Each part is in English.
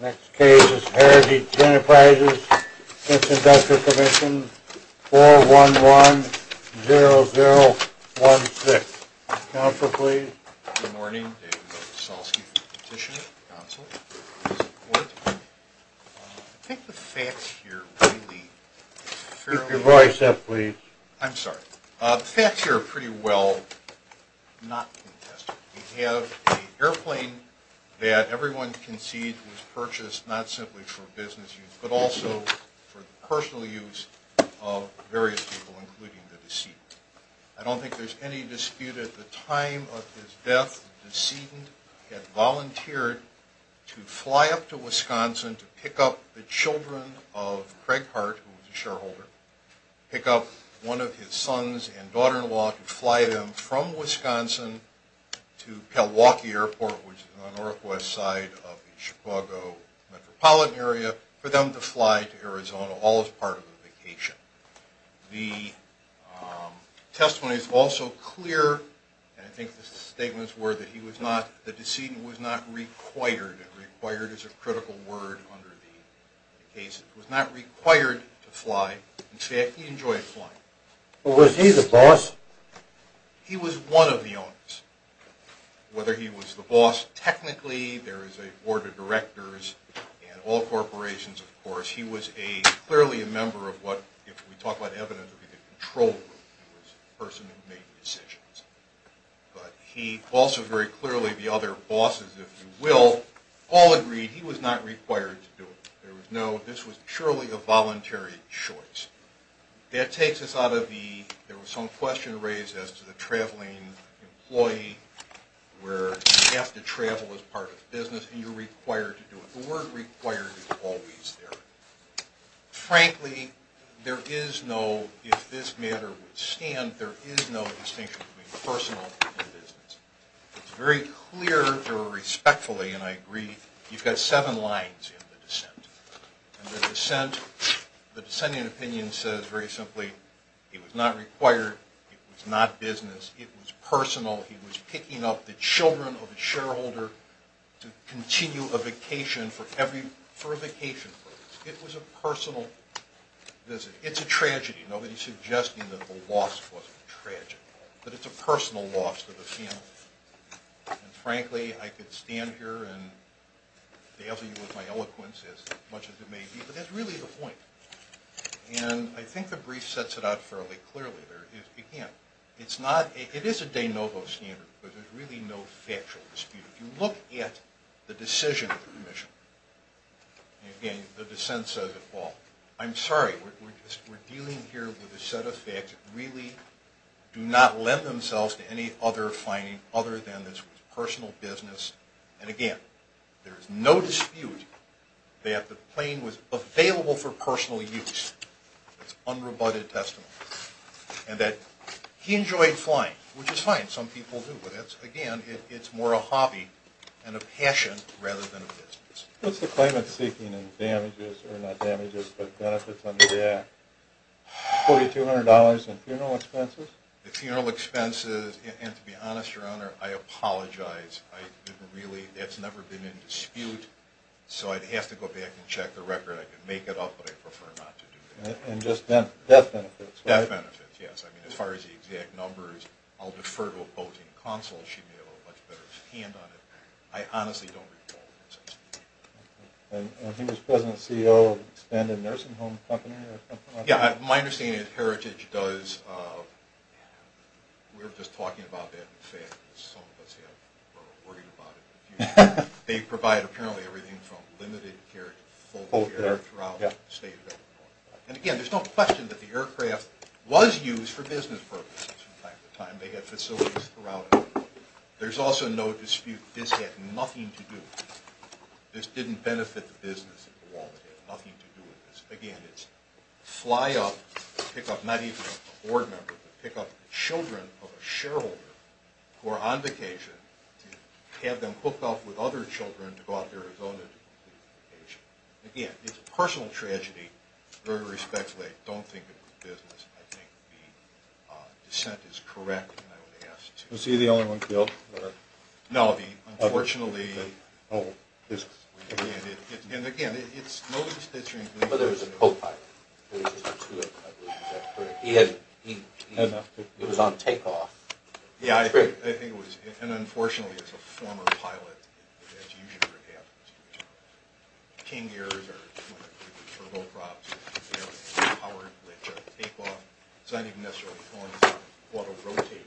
Next case is Heritage Enterprises, Inc. v. Workers' Compensation Commission, 411-0016. Counselor, please. Good morning. David Milosavljevic, Petitioner, Counsel. I think the facts here really... Keep your voice up, please. I'm sorry. The facts here are pretty well not contested. We have an airplane that everyone can see was purchased not simply for business use, but also for the personal use of various people, including the decedent. I don't think there's any dispute at the time of his death, the decedent had volunteered to fly up to Wisconsin to pick up the children of Craig Hart, who was a shareholder, pick up one of his sons and daughter-in-law to fly them from Wisconsin to Kalawakee Airport, which is on the northwest side of the Chicago metropolitan area, for them to fly to Arizona, all as part of a vacation. The testimony is also clear, and I think the statements were that he was not... the decedent was not required... required is a critical word under the case. He was not required to fly. In fact, he enjoyed flying. Was he the boss? He was one of the owners. Whether he was the boss technically, there is a board of directors, and all corporations, of course, he was clearly a member of what, if we talk about evidence, would be the control group. He was a person who made decisions. But he also very clearly, the other bosses, if you will, all agreed he was not required to do it. There was no... this was purely a voluntary choice. That takes us out of the... there was some question raised as to the traveling employee, where you have to travel as part of the business, and you're required to do it. The word required is always there. Frankly, there is no... if this matter would stand, there is no distinction between personal and business. It's very clear, or respectfully, and I agree, you've got seven lines in the descent. And the descent, the descending opinion says very simply, he was not required, it was not business, it was personal. He was picking up the children of a shareholder to continue a vacation for a vacation purpose. It was a personal visit. It's a tragedy. Nobody's suggesting that the loss was tragic. But it's a personal loss to the family. And frankly, I could stand here and fail to use my eloquence as much as it may be, but that's really the point. And I think the brief sets it out fairly clearly. Again, it's not... it is a de novo standard, but there's really no factual dispute. If you look at the decision of the commission, and again, the descent says it all, I'm sorry, we're dealing here with a set of facts that really do not lend themselves to any other finding other than this was personal business. And again, there is no dispute that the plane was available for personal use. It's unrebutted testimony. And that he enjoyed flying, which is fine. Some people do, but again, it's more a hobby and a passion rather than a business. What's the claimant seeking in damages, or not damages, but benefits under the Act? $4,200 in funeral expenses? The funeral expenses, and to be honest, Your Honor, I apologize. That's never been in dispute, so I'd have to go back and check the record. I could make it up, but I prefer not to do that. And just death benefits, right? Death benefits, yes. As far as the exact numbers, I'll defer to opposing counsel. She may have a much better hand on it. I honestly don't recall. And he was President and CEO of Spend and Nursing Home Company? Yeah, my understanding is Heritage does... We were just talking about that. Some of us were worried about it. They provide apparently everything from limited care to full care throughout the state of Illinois. And again, there's no question that the aircraft was used for business purposes from time to time. They had facilities throughout Illinois. There's also no dispute that this had nothing to do with it. This didn't benefit the business at all. It had nothing to do with this. Again, it's fly up, pick up not even a board member, but pick up the children of a shareholder who are on vacation to have them hooked up with other children to go out to Arizona to complete the vacation. Again, it's a personal tragedy. Very respectfully, I don't think it was business. I think the dissent is correct. Was he the only one killed? No. Unfortunately... But there was a co-pilot. It was on takeoff. Yeah, I think it was. And unfortunately, it's a former pilot. It's usually for captains. It's not even necessarily for autorotators.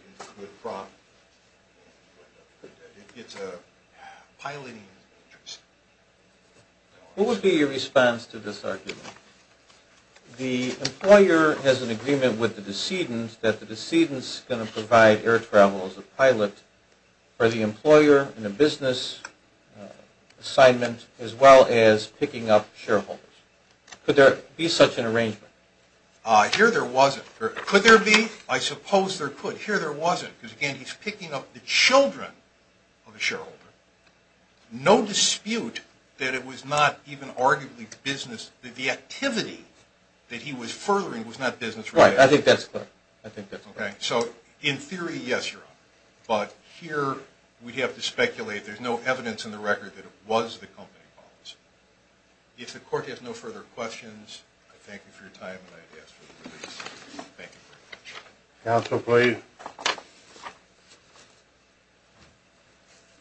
It's a piloting interest. What would be your response to this argument? The employer has an agreement with the decedent that the decedent is going to provide air travel as a pilot for the employer in a business assignment as well as picking up shareholders. Could there be such an arrangement? Here there wasn't. Could there be? I suppose there could. Here there wasn't. Again, he's picking up the children of a shareholder. No dispute that it was not even arguably business. The activity that he was furthering was not business. Right, I think that's correct. In theory, yes, Your Honor. But here we have to speculate. There's no evidence in the record that it was the company policy. If the Court has no further questions, I thank you for your time and I ask for your release. Thank you very much.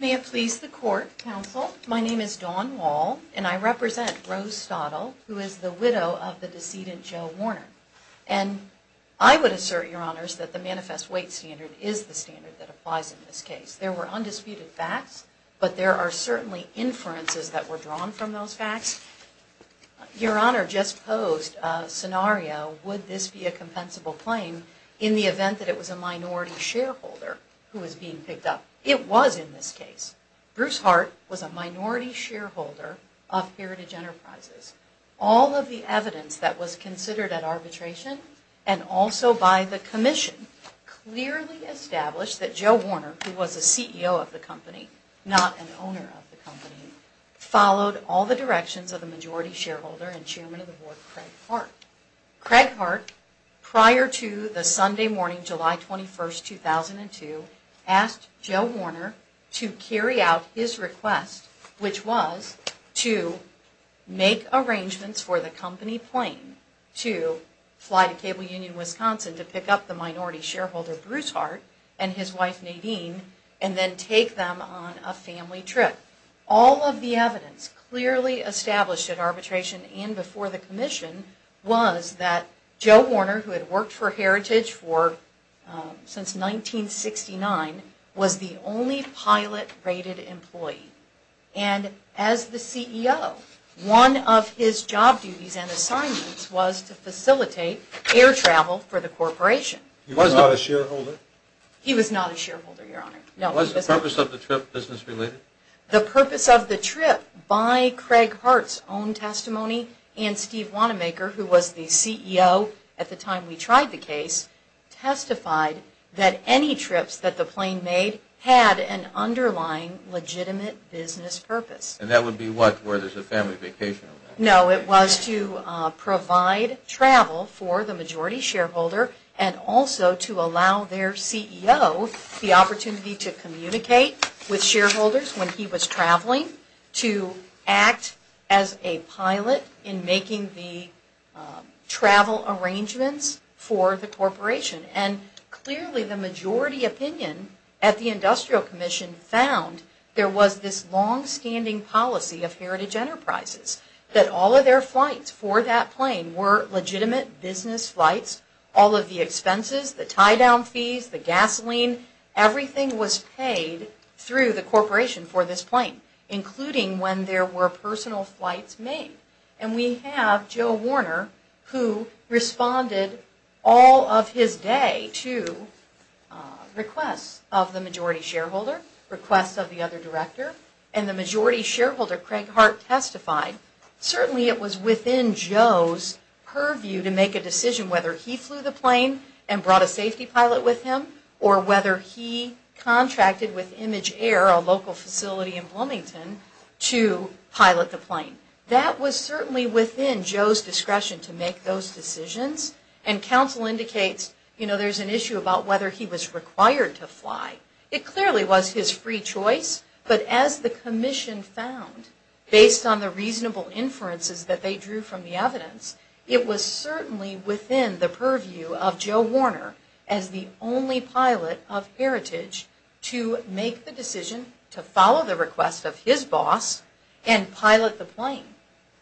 May it please the Court, Counsel. My name is Dawn Wall and I represent Rose Stottle who is the widow of the decedent Joe Warner. And I would assert, Your Honors, that the manifest weight standard is the standard that applies in this case. There were undisputed facts, but there are certainly inferences that were drawn from those facts. Your Honor just posed a scenario, would this be a compensable claim in the event that it was a minority shareholder who was being picked up? It was in this case. Bruce Hart was a minority shareholder of Heritage Enterprises. All of the evidence that was considered at arbitration and also by the Commission clearly established that Joe Warner, who was the CEO of the company, not an owner of the company, followed all the directions of the majority shareholder and Chairman of the Board, Craig Hart. Craig Hart, prior to the Sunday morning, July 21st, 2002, asked Joe Warner to carry out his request, which was to make arrangements for the company plane to fly to Cable Union, Wisconsin to pick up the minority shareholder. Bruce Hart and his wife, Nadine, and then take them on a family trip. All of the evidence clearly established at arbitration and before the Commission was that Joe Warner, who had worked for Heritage for since 1969, was the only pilot rated employee. and assignments was to facilitate air travel for the corporation. He was not a shareholder? Was the purpose of the trip business related? The purpose of the trip, by Craig Hart's own testimony and Steve Wanamaker, who was the CEO at the time we tried the case, testified that any trips that the plane made had an underlying legitimate business purpose. And that would be what, where there's a family vacation? No, it was to provide travel for the majority shareholder and also to allow their CEO the opportunity to communicate with shareholders when he was traveling to act as a pilot in making the travel arrangements for the corporation. And clearly the majority opinion at the Industrial Commission found there was this that all of their flights for that plane were legitimate business flights. All of the expenses, the tie-down fees, the gasoline, everything was paid through the corporation for this plane including when there were personal flights made. And we have Joe Warner who responded all of his day to requests of the majority shareholder requests of the other director and the majority shareholder, Craig Hart, testified certainly it was within Joe's purview to make a decision whether he flew the plane and brought a safety pilot with him or whether he contracted with Image Air, a local facility in Bloomington, to pilot the plane. That was certainly within Joe's discretion to make those decisions and counsel indicates there's an issue about whether he was required to fly. It clearly was his free choice, but as the Commission found, based on the reasonable inferences that they drew from the evidence, it was certainly within the purview of Joe Warner as the only pilot of Heritage to make the decision to follow the request of his boss and pilot the plane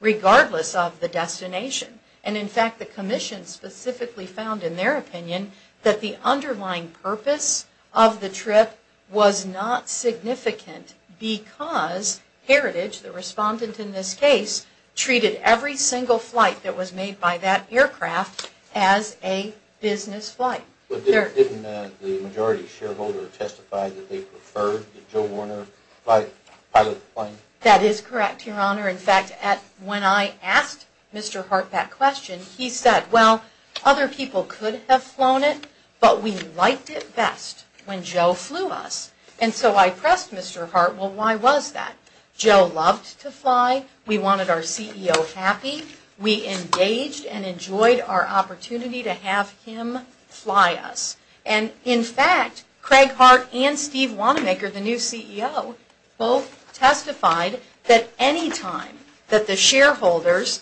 regardless of the destination. And in fact the Commission specifically found in their opinion that the underlying purpose of the trip was not significant because Heritage, the respondent in this case, treated every single flight that was made by that aircraft as a business flight. But didn't the majority shareholder testify that they preferred the Joe Warner pilot of the plane? That is correct, Your Honor. In fact, when I asked Mr. Hart that question, he said, well, other people could have flown it, but we liked it best when Joe flew us. And so I pressed Mr. Hart, well, why was that? Joe loved to fly, we wanted our CEO happy, we engaged and enjoyed our opportunity to have him fly us. And in fact, Craig Hart and Steve Wanamaker, the new CEO, both testified that any time that the aircraft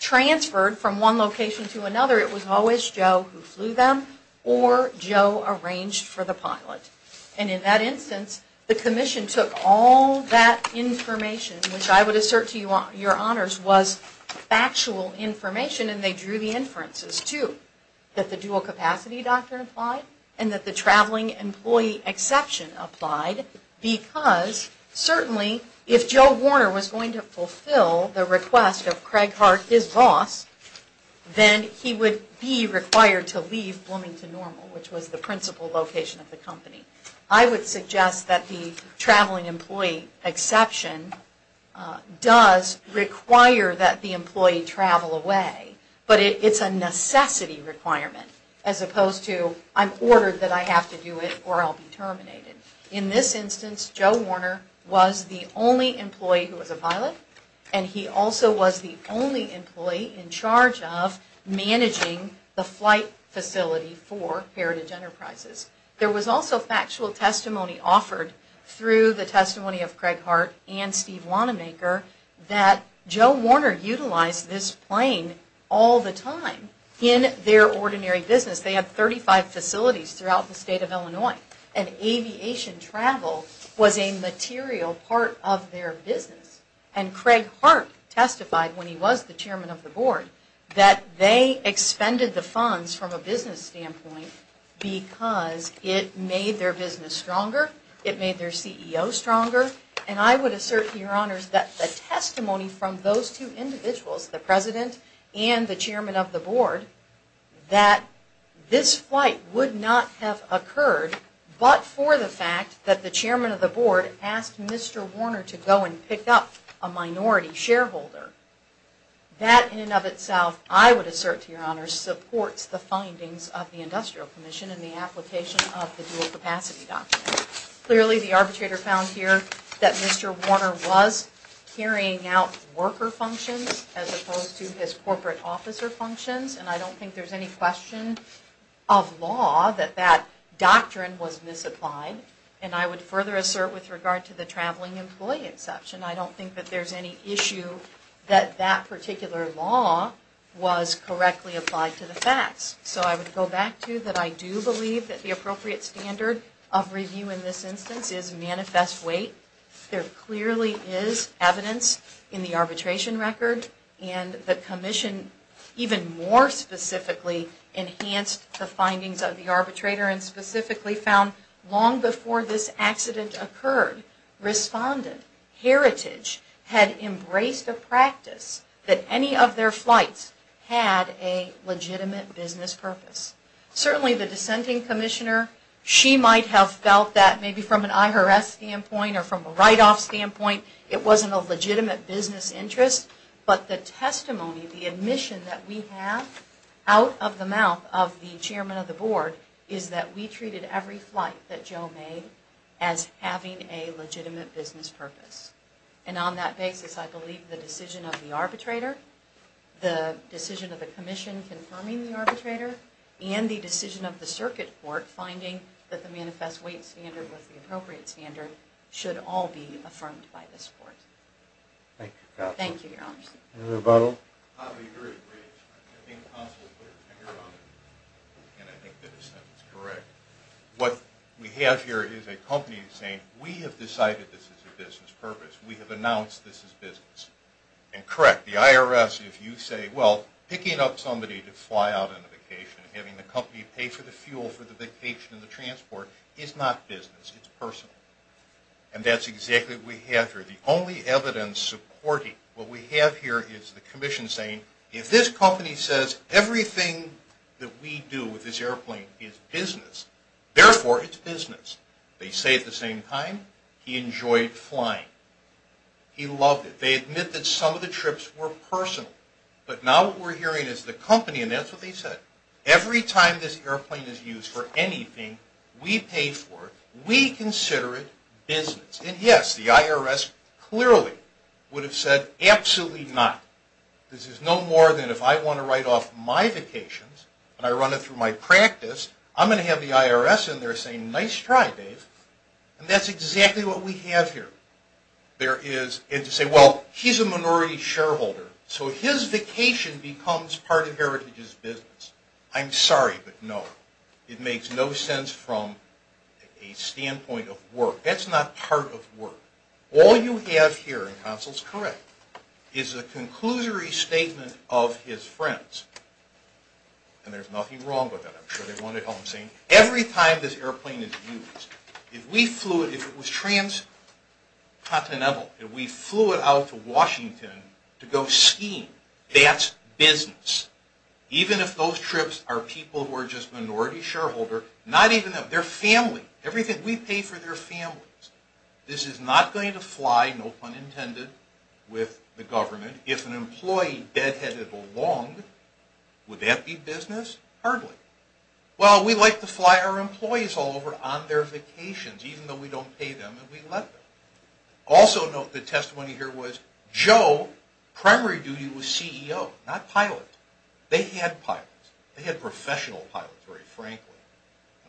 transferred from one location to another, it was always Joe who flew them or Joe arranged for the pilot. And in that instance, the Commission took all that information, which I would assert to Your Honors was factual information and they drew the inferences too, that the dual capacity doctrine applied and that the traveling employee exception applied because certainly if Joe Warner was going to fulfill the request of Craig Hart, his boss, then he would be required to leave Bloomington Normal, which was the principal location of the company. I would suggest that the traveling employee exception does require that the employee travel away, but it's a necessity requirement as opposed to I'm ordered that I have to do it or I'll be terminated. In this instance, Joe Warner was the only employee who was a pilot and he also was the only employee in charge of managing the flight facility for Heritage Enterprises. There was also factual testimony offered through the testimony of Craig Hart and Steve Wanamaker that Joe Warner utilized this plane all the time in their ordinary business. They had 35 facilities throughout the state of Illinois and aviation travel was a material part of their business and Craig Hart testified when he was the chairman of the board that they expended the funds from a business standpoint because it made their business stronger, it made their CEO stronger and I would assert to Your Honors that the testimony from those two individuals, the president and the chairman, this flight would not have occurred but for the fact that the chairman of the board asked Mr. Warner to go and pick up a minority shareholder. That in and of itself I would assert to Your Honors supports the findings of the Industrial Commission and the application of the dual capacity document. Clearly the arbitrator found here that Mr. Warner was carrying out worker functions as opposed to his corporate officer functions and I don't think there's any question of law that that doctrine was misapplied and I would further assert with regard to the traveling employee exception. I don't think that there's any issue that that particular law was correctly applied to the facts. So I would go back to that I do believe that the appropriate standard of review in this instance is manifest weight. There clearly is evidence in the even more specifically enhanced the findings of the arbitrator and specifically found long before this accident occurred, Respondent Heritage had embraced a practice that any of their flights had a legitimate business purpose. Certainly the dissenting commissioner, she might have felt that maybe from an IRS standpoint or from a write-off standpoint it wasn't a legitimate business interest, but the testimony, the admission that we have out of the mouth of the chairman of the board is that we treated every flight that Joe made as having a legitimate business purpose. And on that basis I believe the decision of the arbitrator, the decision of the commission confirming the arbitrator and the decision of the circuit court finding that the manifest weight standard with the appropriate standard should all be affirmed by this court. Thank you. What we have here is a company saying we have decided this is a business purpose, we have announced this is business. And correct, the IRS if you say well picking up somebody to fly out on a vacation and having the company pay for the fuel for the vacation and the transport is not business, it's personal. And that's exactly what we have here. The only evidence supporting what we have here is the commission saying if this company says everything that we do with this airplane is business therefore it's business. They say at the same time he enjoyed flying. He loved it. They admit that some of the trips were personal. But now what we're hearing is the company and that's what they said, every time this airplane is used for anything we pay for, we consider it business. And yes, the IRS clearly would have said absolutely not. This is no more than if I want to write off my vacations and I run it through my practice I'm going to have the IRS in there saying nice try Dave. And that's exactly what we have here. And to say well he's a minority shareholder so his vacation becomes part of Heritage's business. I'm sorry but no. It makes no sense from a standpoint of work. That's not part of work. All you have here in Consul is correct. It's a conclusory statement of his friends. And there's nothing wrong with that. I'm sure they want to help him. Every time this airplane is used if it was transcontinental and we flew it out to Washington to go skiing that's business. Even if those trips are people who are just minority shareholder not even them. Their family. Everything we pay for their families. This is not going to fly, no pun intended with the government if an employee deadheaded along. Would that be business? Hardly. Well we like to fly our employees all over on their vacations even though we don't pay them and we let them. Also note the testimony here was Joe primary duty was CEO not pilot. They had pilots. They had professional pilots very frankly.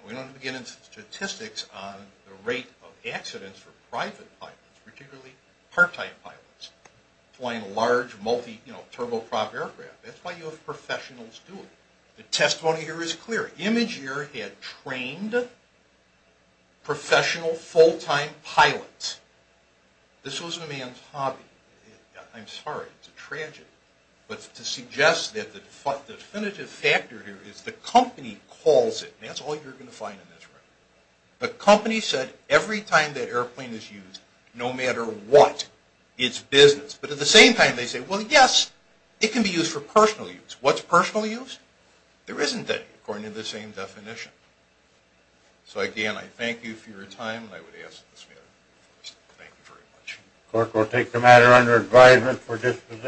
We don't begin in statistics on the rate of accidents for private pilots particularly part-time pilots flying large multi-turbo-prop aircraft. That's why you have professionals doing it. The testimony here is clear. Imgur had trained professional full-time pilots. This wasn't a man's hobby. I'm sorry. It's a tragedy. But to suggest that the definitive factor here is the company calls it. That's all you're going to find in this record. The company said every time that airplane is used no matter what it's business. But at the same time they say well yes it can be used for personal use. What's personal use? There isn't any according to the same definition. So again I thank you for your time and I would ask this meeting to close. Thank you very much.